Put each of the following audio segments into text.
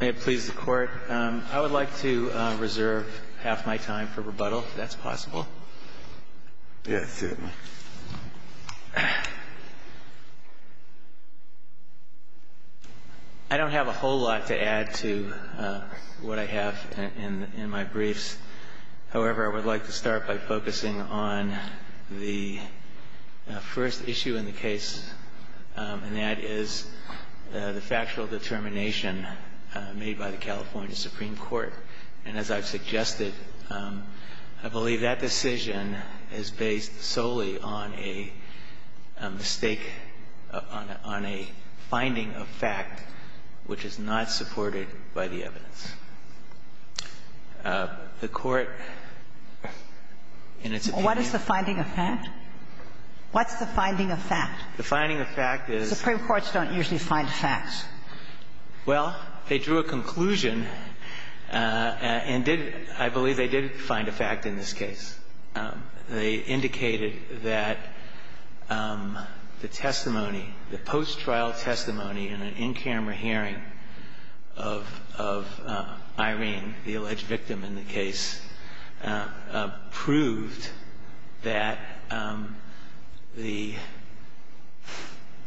May it please the Court, I would like to reserve half my time for rebuttal, if that's possible. Yes, certainly. I don't have a whole lot to add to what I have in my briefs. However, I would like to start by focusing on the first issue in the case, and that is the factual determination made by the California Supreme Court. And as I've suggested, I believe that decision is based solely on a mistake, on a finding of fact which is not supported by the evidence. The Court, in its opinion What is the finding of fact? What's the finding of fact? The finding of fact is Supreme Courts don't usually find facts. Well, they drew a conclusion and did, I believe they did find a fact in this case. They indicated that the testimony, the post-trial testimony in an in-camera hearing of Irene, the alleged victim in the case, proved that the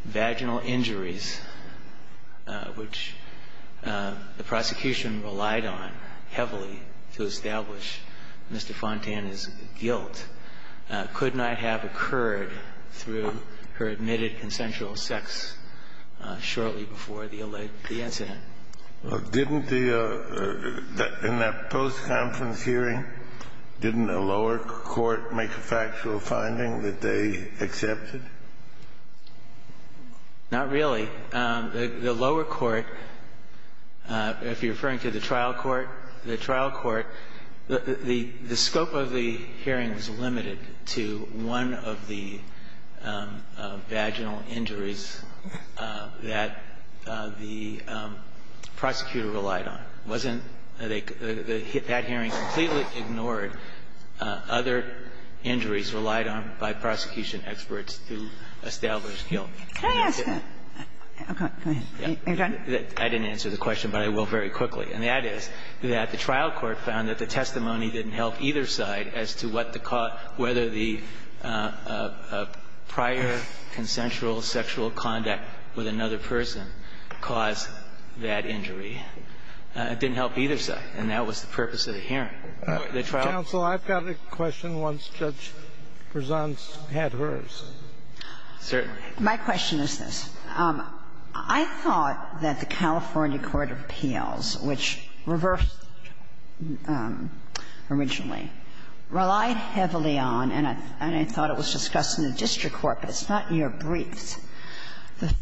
vaginal injuries which the prosecution relied on heavily to establish Mr. Fontana's guilt could not have occurred through her admitted consensual sex shortly before the incident. Well, didn't the In that post-conference hearing, didn't a lower court make a factual finding that they accepted? Not really. The lower court, if you're referring to the trial court, the trial court, the scope of the hearing is limited to one of the vaginal injuries that the prosecutor relied on. It wasn't, that hearing completely ignored other injuries relied on by prosecution experts to establish guilt. Could I ask that? Go ahead. Are you done? I didn't answer the question, but I will very quickly. And that is that the trial court found that the testimony didn't help either side as to what the cause, whether the prior consensual sexual conduct with another person caused that injury. It didn't help either side. And that was the purpose of the hearing. Counsel, I've got a question once Judge Berzon had hers. Certainly. My question is this. I thought that the California court of appeals, which reversed originally, relied heavily on, and I thought it was discussed in the district court, but it's not in your briefs. Well, it was the case that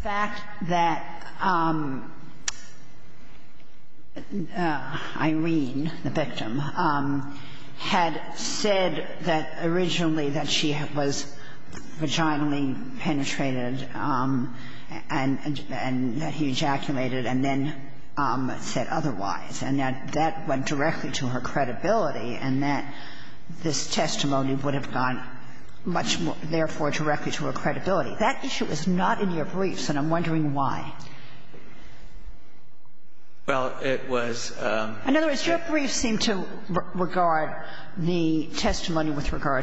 the defendant had said that originally that she was vaginally penetrated and that he ejaculated and then said otherwise, and that that went directly to her credibility and that this testimony would have gone much more, therefore, the testimony with regard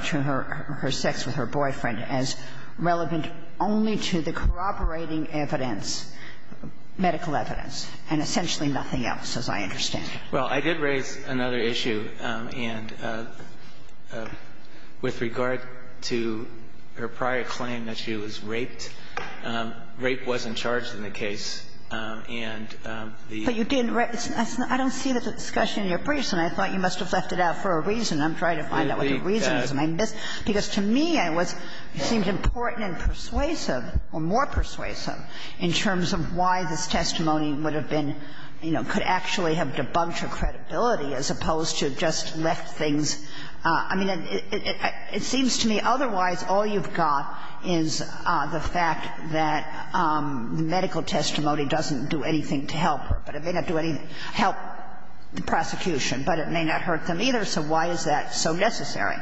to her sex with her boyfriend as relevant only to the corroborating evidence, medical evidence, and essentially nothing else, as I understand it. Well, I did raise another issue, and with regard to her prior claim that she was raped, rape wasn't charged in the case. And the ---- But you didn't raise the ---- I don't see that discussion in your briefs, and I thought you must have left it out for a reason. I'm trying to find out what the reason is. Because to me, it seemed important and persuasive, or more persuasive, in terms of why this testimony would have been, you know, could actually have debunked her credibility as opposed to just left things ---- I mean, it seems to me otherwise all you've got is the fact that the medical testimony doesn't do anything to help her, but it may not do anything to help the prosecution, but it may not hurt them either, so why is that so necessary?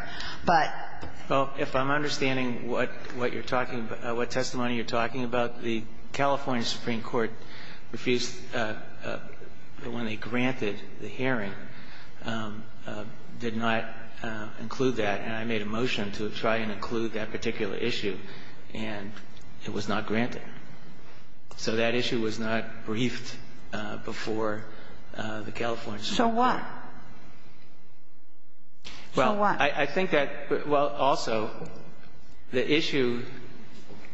But ---- Well, if I'm understanding what you're talking about, what testimony you're talking about, the California Supreme Court refused, when they granted the hearing, did not include that. And I made a motion to try and include that particular issue, and it was not granted. So that issue was not briefed before the California Supreme Court. So what? So what? Well, I think that ---- well, also, the issue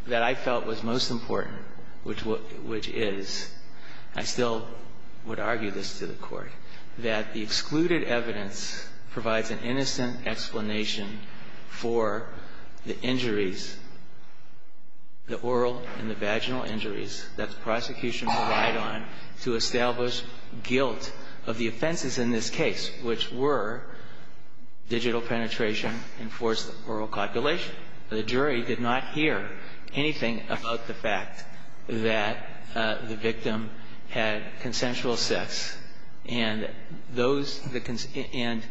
that I felt was most important, which is, I still would argue this to the Court, that the excluded evidence provides an innocent explanation for the injuries, the oral and the vaginal injuries, that the prosecution relied on to establish guilt of the offenses in this case, which were digital penetration and forced oral copulation. The jury did not hear anything about the fact that the victim had consensual sex, and those ---- and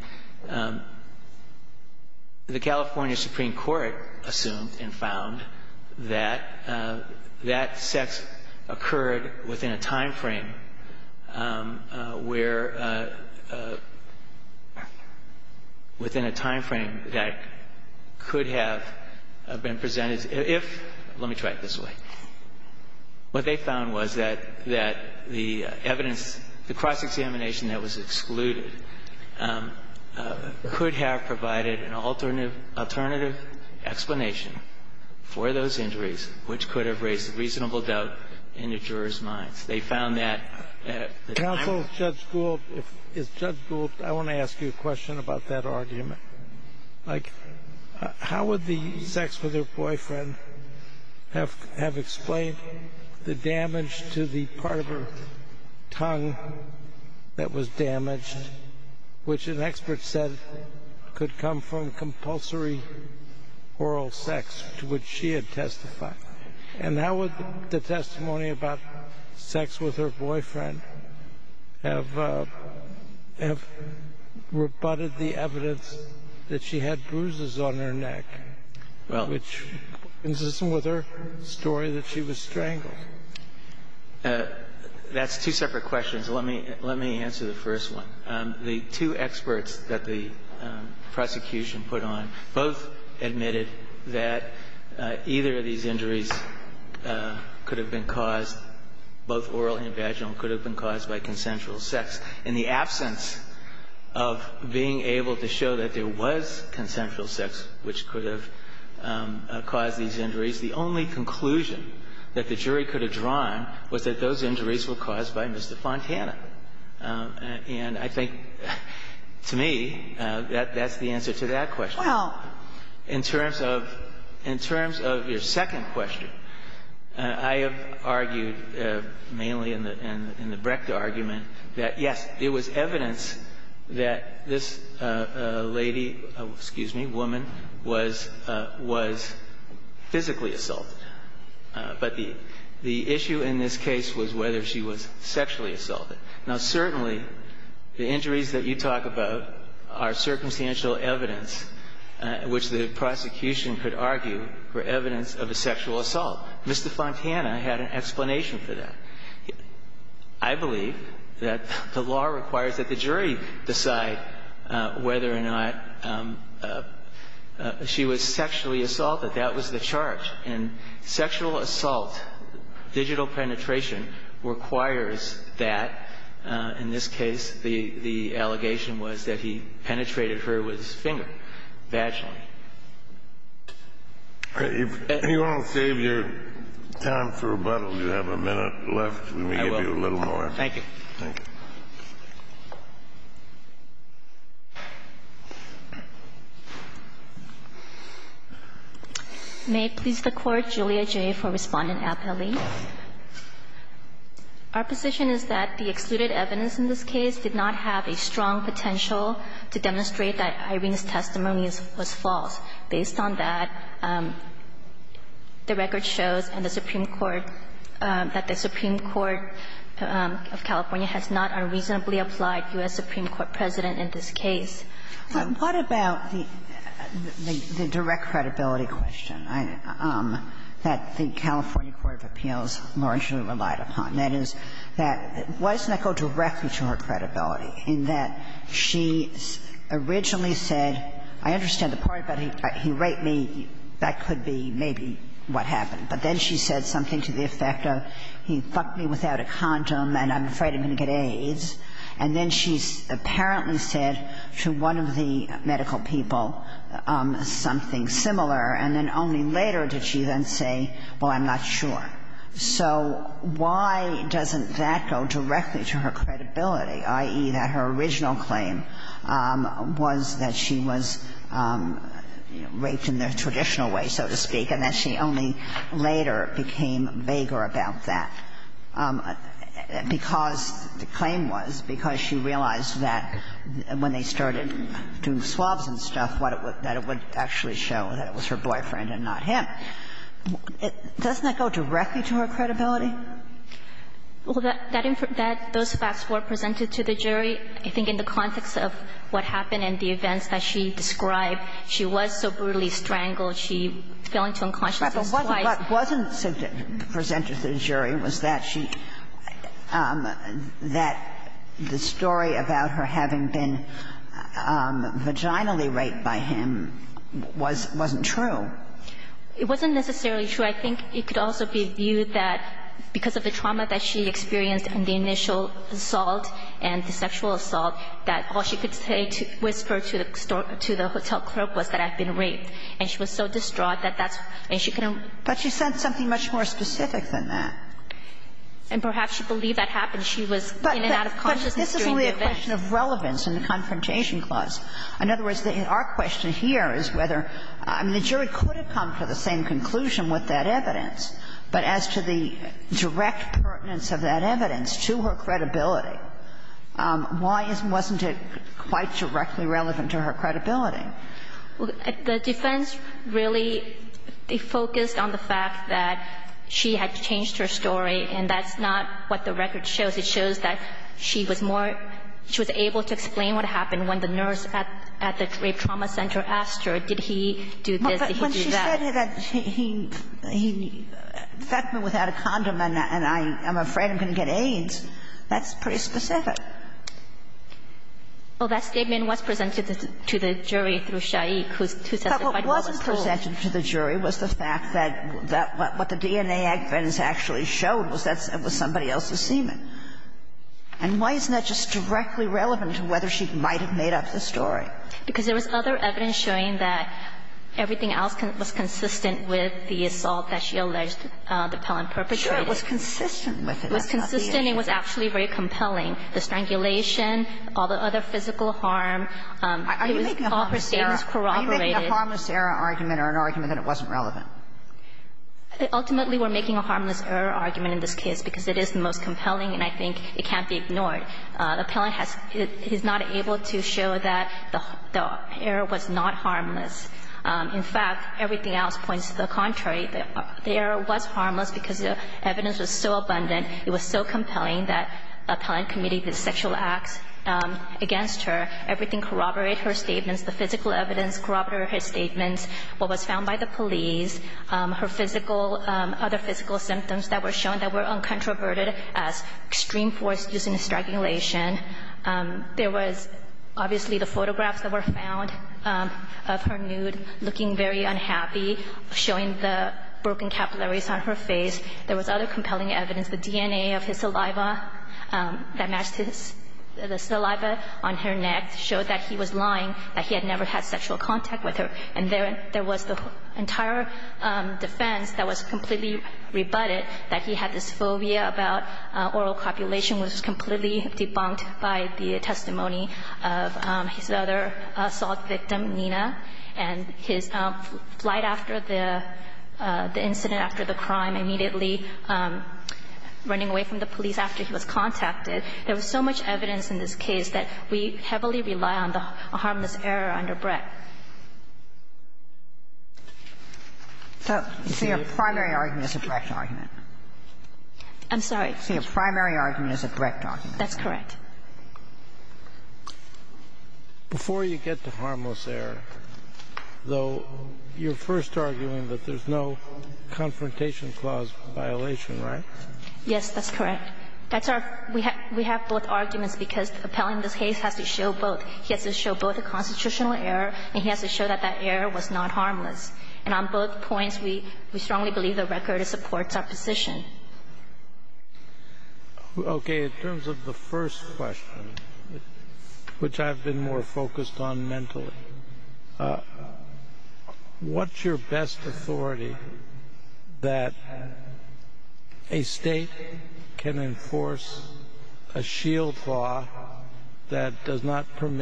the California Supreme Court assumed and found that that sex occurred within a timeframe where ---- within a timeframe that could have been presented if ---- let me try it this way. What they found was that the evidence, the cross-examination that was excluded could have provided an alternative explanation for those injuries, which could have raised reasonable doubt in the jurors' minds. They found that ---- Counsel, Judge Gould, if Judge Gould, I want to ask you a question about that argument. Like, how would the sex with her boyfriend have explained the damage to the part of her tongue that was damaged, which an expert said could come from compulsory oral sex, to which she had testified? And how would the testimony about sex with her boyfriend have rebutted the evidence that she had bruises on her neck, which consistent with her story that she was strangled? That's two separate questions. Let me answer the first one. The two experts that the prosecution put on both admitted that either of these injuries could have been caused, both oral and vaginal, could have been caused by consensual sex. In the absence of being able to show that there was consensual sex which could have caused these injuries, the only conclusion that the jury could have drawn was that those injuries were caused by Mr. Fontana. And I think to me, that's the answer to that question. Well, in terms of your second question, I have argued mainly in the Brecht argument that, yes, it was evidence that this lady, excuse me, woman, was physically assaulted. But the issue in this case was whether she was sexually assaulted. Now, certainly, the injuries that you talk about are circumstantial evidence which the prosecution could argue were evidence of a sexual assault. Mr. Fontana had an explanation for that. I believe that the law requires that the jury decide whether or not she was sexually assaulted. That was the charge. And sexual assault, digital penetration, requires that. In this case, the allegation was that he penetrated her with his finger, vaginally. If you want to save your time for rebuttal, you have a minute left. Let me give you a little more. Thank you. May it please the Court, Julia Jay for Respondent Appelli. Our position is that the excluded evidence in this case did not have a strong potential to demonstrate that Irene's testimony was false. Based on that, the record shows in the Supreme Court that the Supreme Court of California has not unreasonably applied U.S. Supreme Court precedent in this case. What about the direct credibility question that the California Court of Appeals largely relied upon? That is, why doesn't that go directly to her credibility, in that she originally said, I understand the part about he raped me, that could be maybe what happened. But then she said something to the effect of, he fucked me without a condom and I'm afraid I'm going to get AIDS. And then she apparently said to one of the medical people something similar, and then only later did she then say, well, I'm not sure. So why doesn't that go directly to her credibility, i.e., that her original claim was that she was raped in the traditional way, so to speak, and that she only later became vaguer about that? Because the claim was, because she realized that when they started doing swabs and stuff, that it would actually show that it was her boyfriend and not him. Doesn't that go directly to her credibility? Well, that those facts were presented to the jury. I think in the context of what happened and the events that she described, she was so brutally strangled, she fell into unconsciousness twice. But what wasn't presented to the jury was that she – that the story about her having been vaginally raped by him was – wasn't true. It wasn't necessarily true. I think it could also be viewed that because of the trauma that she experienced and the initial assault and the sexual assault, that all she could say, whisper to the hotel clerk, was that I've been raped. And she was so distraught that that's – and she couldn't – But she said something much more specific than that. And perhaps she believed that happened. She was in and out of consciousness during the event. But this is only a question of relevance in the Confrontation Clause. In other words, our question here is whether – I mean, the jury could have come to the same conclusion with that evidence. But as to the direct pertinence of that evidence to her credibility, why wasn't it quite directly relevant to her credibility? Well, the defense really focused on the fact that she had changed her story, and that's not what the record shows. It shows that she was more – she was able to explain what happened when the nurse at the rape trauma center asked her, did he do this, did he do that. But when she said that he infected me without a condom and I'm afraid I'm going to get AIDS, that's pretty specific. Well, that statement was presented to the jury through Shaik, who said the fight was over. But what wasn't presented to the jury was the fact that what the DNA evidence actually showed was that it was somebody else's semen. And why isn't that just directly relevant to whether she might have made up the story? Because there was other evidence showing that everything else was consistent with the assault that she alleged the felon perpetrated. Sure. It was consistent with it. That's not the issue. The DNA was actually very compelling. The strangulation, all the other physical harm, it was all her statements corroborated. Are you making a harmless error argument or an argument that it wasn't relevant? Ultimately, we're making a harmless error argument in this case because it is the most compelling and I think it can't be ignored. The felon has – he's not able to show that the error was not harmless. In fact, everything else points to the contrary. The error was harmless because the evidence was so abundant. It was so compelling that the Appellant Committee did sexual acts against her. Everything corroborated her statements. The physical evidence corroborated her statements. What was found by the police, her physical – other physical symptoms that were shown that were uncontroverted as extreme force using strangulation. There was obviously the photographs that were found of her nude looking very unhappy, showing the broken capillaries on her face. There was other compelling evidence. The DNA of his saliva that matched his – the saliva on her neck showed that he was lying, that he had never had sexual contact with her. And there was the entire defense that was completely rebutted, that he had this phobia about oral copulation, which was completely debunked by the testimony of his other assault victim, Nina, and his flight after the – the incident after the crime immediately running away from the police after he was contacted. There was so much evidence in this case that we heavily rely on the harmless error under Brett. So your primary argument is a correct argument. I'm sorry. So your primary argument is a correct argument. That's correct. Before you get to harmless error, though, you're first arguing that there's no confrontation clause violation, right? Yes, that's correct. That's our – we have both arguments because appellant in this case has to show both. He has to show both the constitutional error and he has to show that that error was not harmless. And on both points, we strongly believe the record supports our position. Okay, in terms of the first question, which I've been more focused on mentally, what's your best authority that a state can enforce a shield law that does not Well, in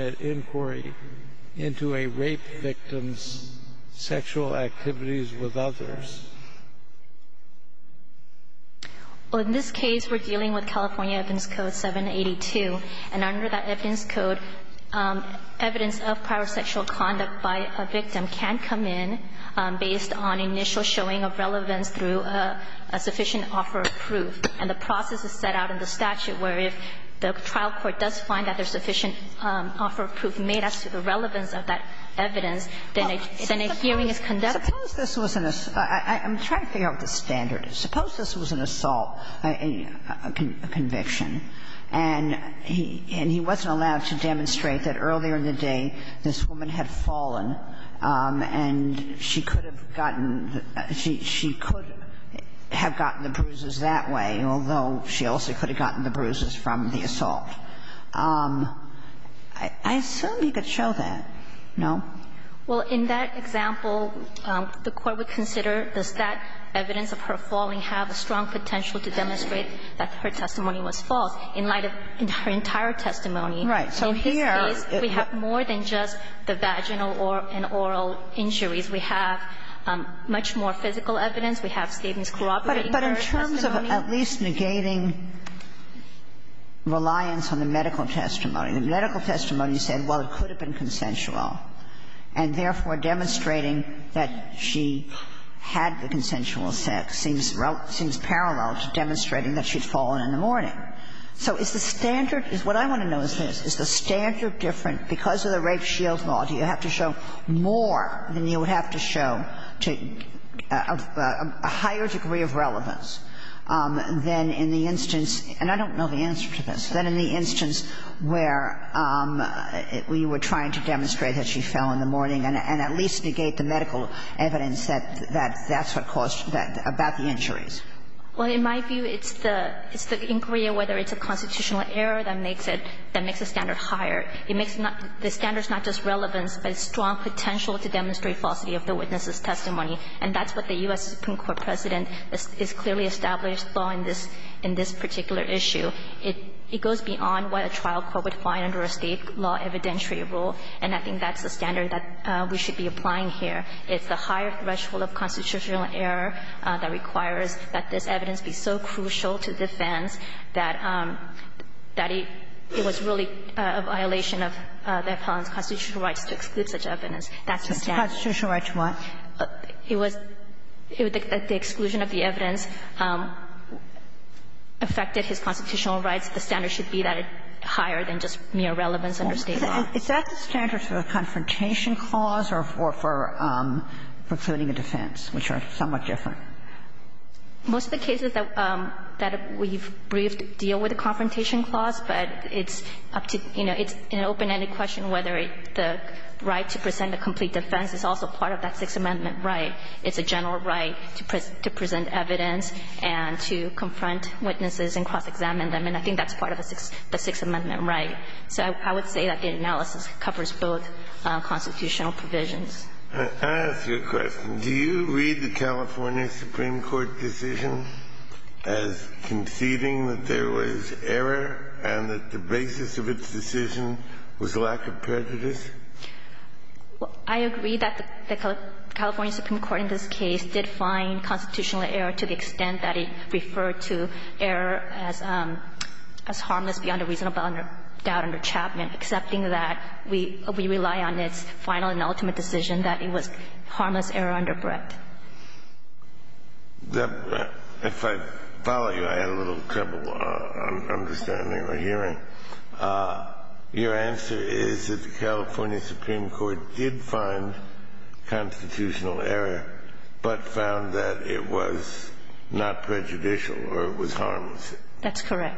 this case, we're dealing with California Evidence Code 782. And under that evidence code, evidence of prior sexual conduct by a victim can come in based on initial showing of relevance through a sufficient offer of proof. And the process is set out in the statute where if the trial court does find that there's sufficient offer of proof made as to the relevance of that evidence, then a hearing is conducted. Suppose this wasn't a – I'm trying to figure out what the standard is. Suppose this was an assault, a conviction, and he wasn't allowed to demonstrate that earlier in the day this woman had fallen and she could have gotten – she could have gotten the bruises that way, although she also could have gotten the bruises from the assault. I assume you could show that, no? Well, in that example, the court would consider does that evidence of her falling have a strong potential to demonstrate that her testimony was false in light of her entire testimony. Right. So here we have more than just the vaginal and oral injuries. We have much more physical evidence. We have statements corroborating her testimony. But in terms of at least negating reliance on the medical testimony, the medical testimony would have been consensual, and therefore demonstrating that she had the consensual sex seems parallel to demonstrating that she had fallen in the morning. So is the standard – what I want to know is this. Is the standard different because of the rape shield law? Do you have to show more than you would have to show to a higher degree of relevance than in the instance – and I don't know the answer to this – than in the instance where we were trying to demonstrate that she fell in the morning and at least negate the medical evidence that that's what caused – about the injuries? Well, in my view, it's the – it's the inquiry of whether it's a constitutional error that makes it – that makes the standard higher. It makes not – the standard's not just relevance, but it's strong potential to demonstrate falsity of the witness's testimony. And that's what the U.S. Supreme Court precedent is clearly established law in this particular issue. It goes beyond what a trial court would find under a State law evidentiary rule, and I think that's the standard that we should be applying here. It's the higher threshold of constitutional error that requires that this evidence be so crucial to defense that it was really a violation of the defendant's constitutional rights to exclude such evidence. That's the standard. Constitutional rights what? It was the exclusion of the evidence affected his constitutional rights. The standard should be that it's higher than just mere relevance under State law. Is that the standard for a confrontation clause or for precluding a defense, which are somewhat different? Most of the cases that we've briefed deal with a confrontation clause, but it's up to – you know, it's an open-ended question whether the right to present a complete defense is also part of that Sixth Amendment right. It's a general right to present evidence and to confront witnesses and cross-examine them, and I think that's part of the Sixth Amendment right. So I would say that the analysis covers both constitutional provisions. I ask you a question. Do you read the California Supreme Court decision as conceding that there was error and that the basis of its decision was lack of prejudice? I agree that the California Supreme Court in this case did find constitutional error to the extent that it referred to error as harmless beyond a reasonable doubt under Chapman, accepting that we rely on its final and ultimate decision that it was harmless error under Brett. If I follow you, I had a little trouble understanding or hearing. Your answer is that the California Supreme Court did find constitutional error, but found that it was not prejudicial or it was harmless. That's correct.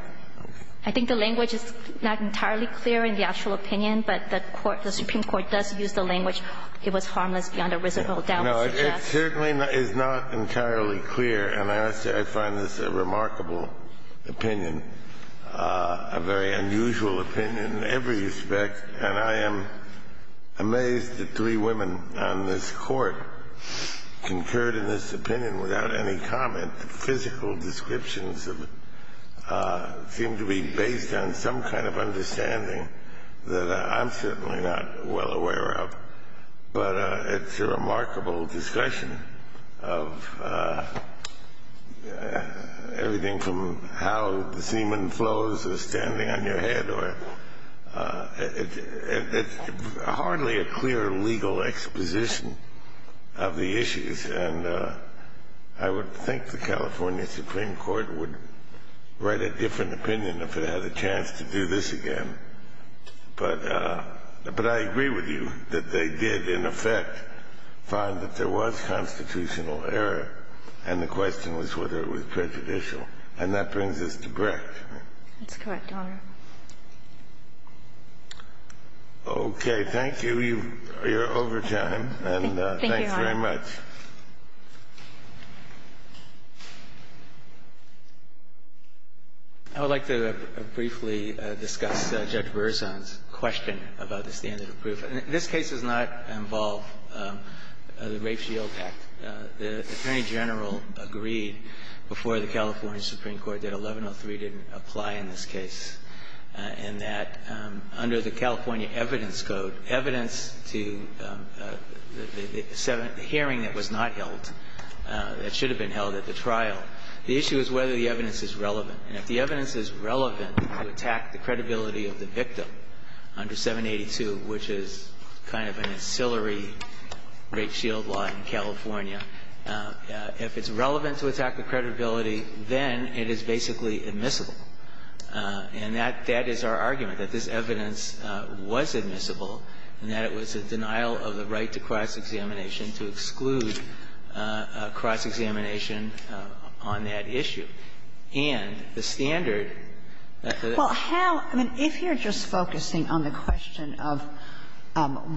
I think the language is not entirely clear in the actual opinion, but the Supreme Court does use the language, it was harmless beyond a reasonable doubt. No, it certainly is not entirely clear, and I find this a remarkable opinion, a very unusual opinion in every respect, and I am amazed that three women on this Court concurred in this opinion without any comment. The physical descriptions seem to be based on some kind of understanding that I'm certainly not well aware of, but it's a remarkable discussion of everything from how the semen flows or standing on your head or hardly a clear legal exposition of the issues, and I would think the California Supreme Court would write a different opinion if it had a chance to do this again. But I agree with you that they did, in effect, find that there was constitutional error and the question was whether it was prejudicial, and that brings us to Brett. That's correct, Your Honor. Okay. Thank you. You're over time. Thank you, Your Honor. And thanks very much. I would like to briefly discuss Judge Berzon's question about the standard of proof. This case does not involve the Rape Shield Act. The Attorney General agreed before the California Supreme Court that 1103 didn't apply in this case, and that under the California Evidence Code, evidence to the hearing that was not held, that should have been held at the trial, the issue is whether the evidence is relevant. And if the evidence is relevant to attack the credibility of the victim under 782, which is kind of an ancillary Rape Shield law in California, if it's relevant to attack the credibility, then it is basically admissible. And that is our argument, that this evidence was admissible and that it was a denial of the right to cross-examination, to exclude cross-examination on that issue. And the standard that the other one is not. Well, how – I mean, if you're just focusing on the question of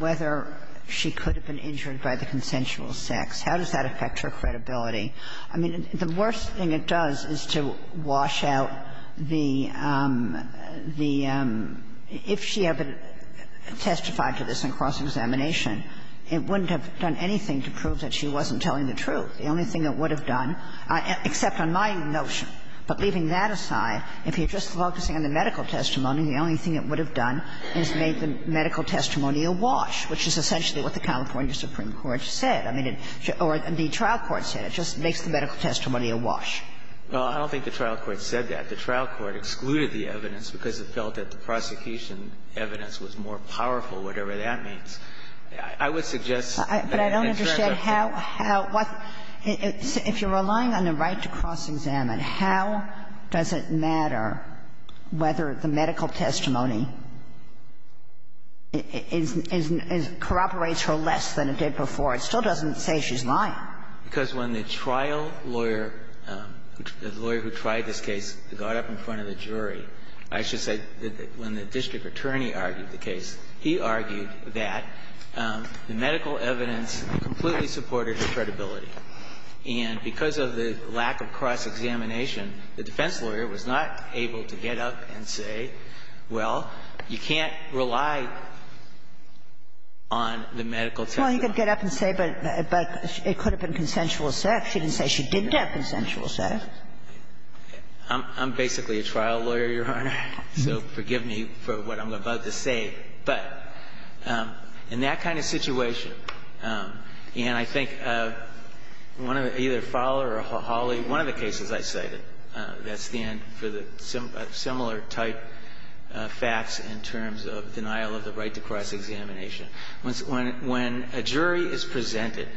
whether she could have been injured by the consensual sex, how does that affect her credibility? I mean, the worst thing it does is to wash out the – the – if she ever testified to this in cross-examination, it wouldn't have done anything to prove that she wasn't telling the truth. The only thing it would have done, except on my notion, but leaving that aside, if you're just focusing on the medical testimony, the only thing it would have done is made the medical testimony a wash, which is essentially what the California Supreme Court said. I mean, or the trial court said. It just makes the medical testimony a wash. Well, I don't think the trial court said that. The trial court excluded the evidence because it felt that the prosecution evidence was more powerful, whatever that means. I would suggest that it's very different. But I don't understand how – how – if you're relying on the right to cross-examine, how does it matter whether the medical testimony is – is – corroborates her less than it did before? It still doesn't say she's lying. Because when the trial lawyer, the lawyer who tried this case, got up in front of the defense attorney, argued the case, he argued that the medical evidence completely supported her credibility. And because of the lack of cross-examination, the defense lawyer was not able to get up and say, well, you can't rely on the medical testimony. Well, he could get up and say, but it could have been consensual assertion. He didn't say she did have consensual assertion. I'm basically a trial lawyer, Your Honor. So forgive me for what I'm about to say. But in that kind of situation, and I think one of the – either Fowler or Hawley – one of the cases I cited that stand for the similar type facts in terms of denial of the right to cross-examination. When a jury is presented,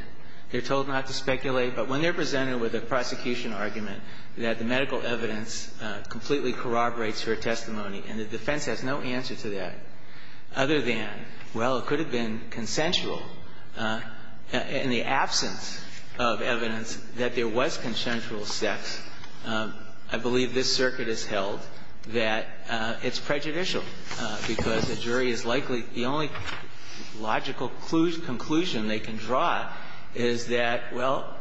they're told not to speculate, but when they're presented with a prosecution argument that the medical evidence completely corroborates her testimony, and the defense has no answer to that other than, well, it could have been consensual. In the absence of evidence that there was consensual sex, I believe this circuit has held that it's prejudicial, because the jury is likely – the only logical conclusion they can draw is that, well,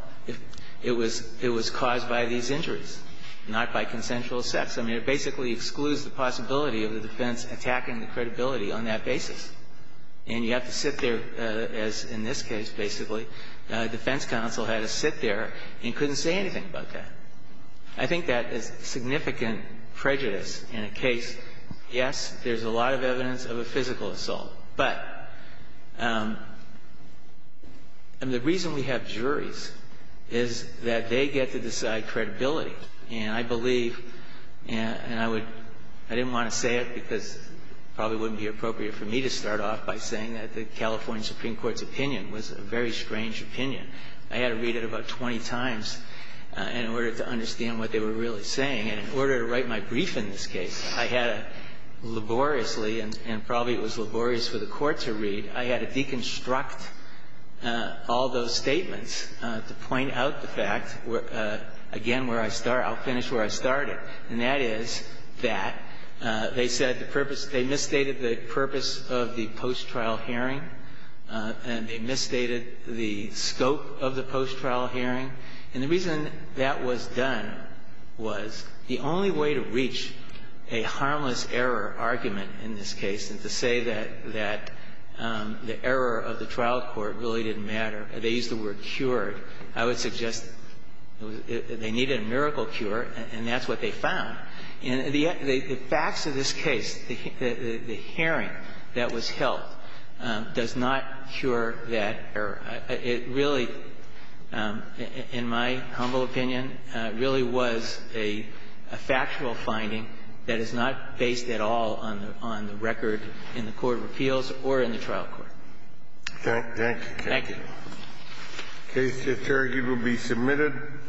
it was caused by these injuries, not by consensual sex. I mean, it basically excludes the possibility of the defense attacking the credibility on that basis. And you have to sit there, as in this case, basically, defense counsel had to sit there and couldn't say anything about that. I think that is significant prejudice in a case. Yes, there's a lot of evidence of a physical assault. But the reason we have juries is that they get to decide credibility. And I believe, and I would – I didn't want to say it because it probably wouldn't be appropriate for me to start off by saying that the California Supreme Court's opinion was a very strange opinion. I had to read it about 20 times in order to understand what they were really saying. And in order to write my brief in this case, I had to laboriously, and probably it was laborious for the Court to read, I had to deconstruct all those statements to point out the fact, again, where I start – I'll finish where I started. And that is that they said the purpose – they misstated the purpose of the post-trial hearing, and they misstated the scope of the post-trial hearing. And the reason that was done was the only way to reach a harmless error argument in this case. And to say that the error of the trial court really didn't matter, they used the word cured, I would suggest they needed a miracle cure, and that's what they found. And the facts of this case, the hearing that was held, does not cure that error. It really, in my humble opinion, really was a factual finding that is not based at all on the record in the court of appeals or in the trial court. Thank you. Thank you, Your Honor. Thank you. The case at Target will be submitted.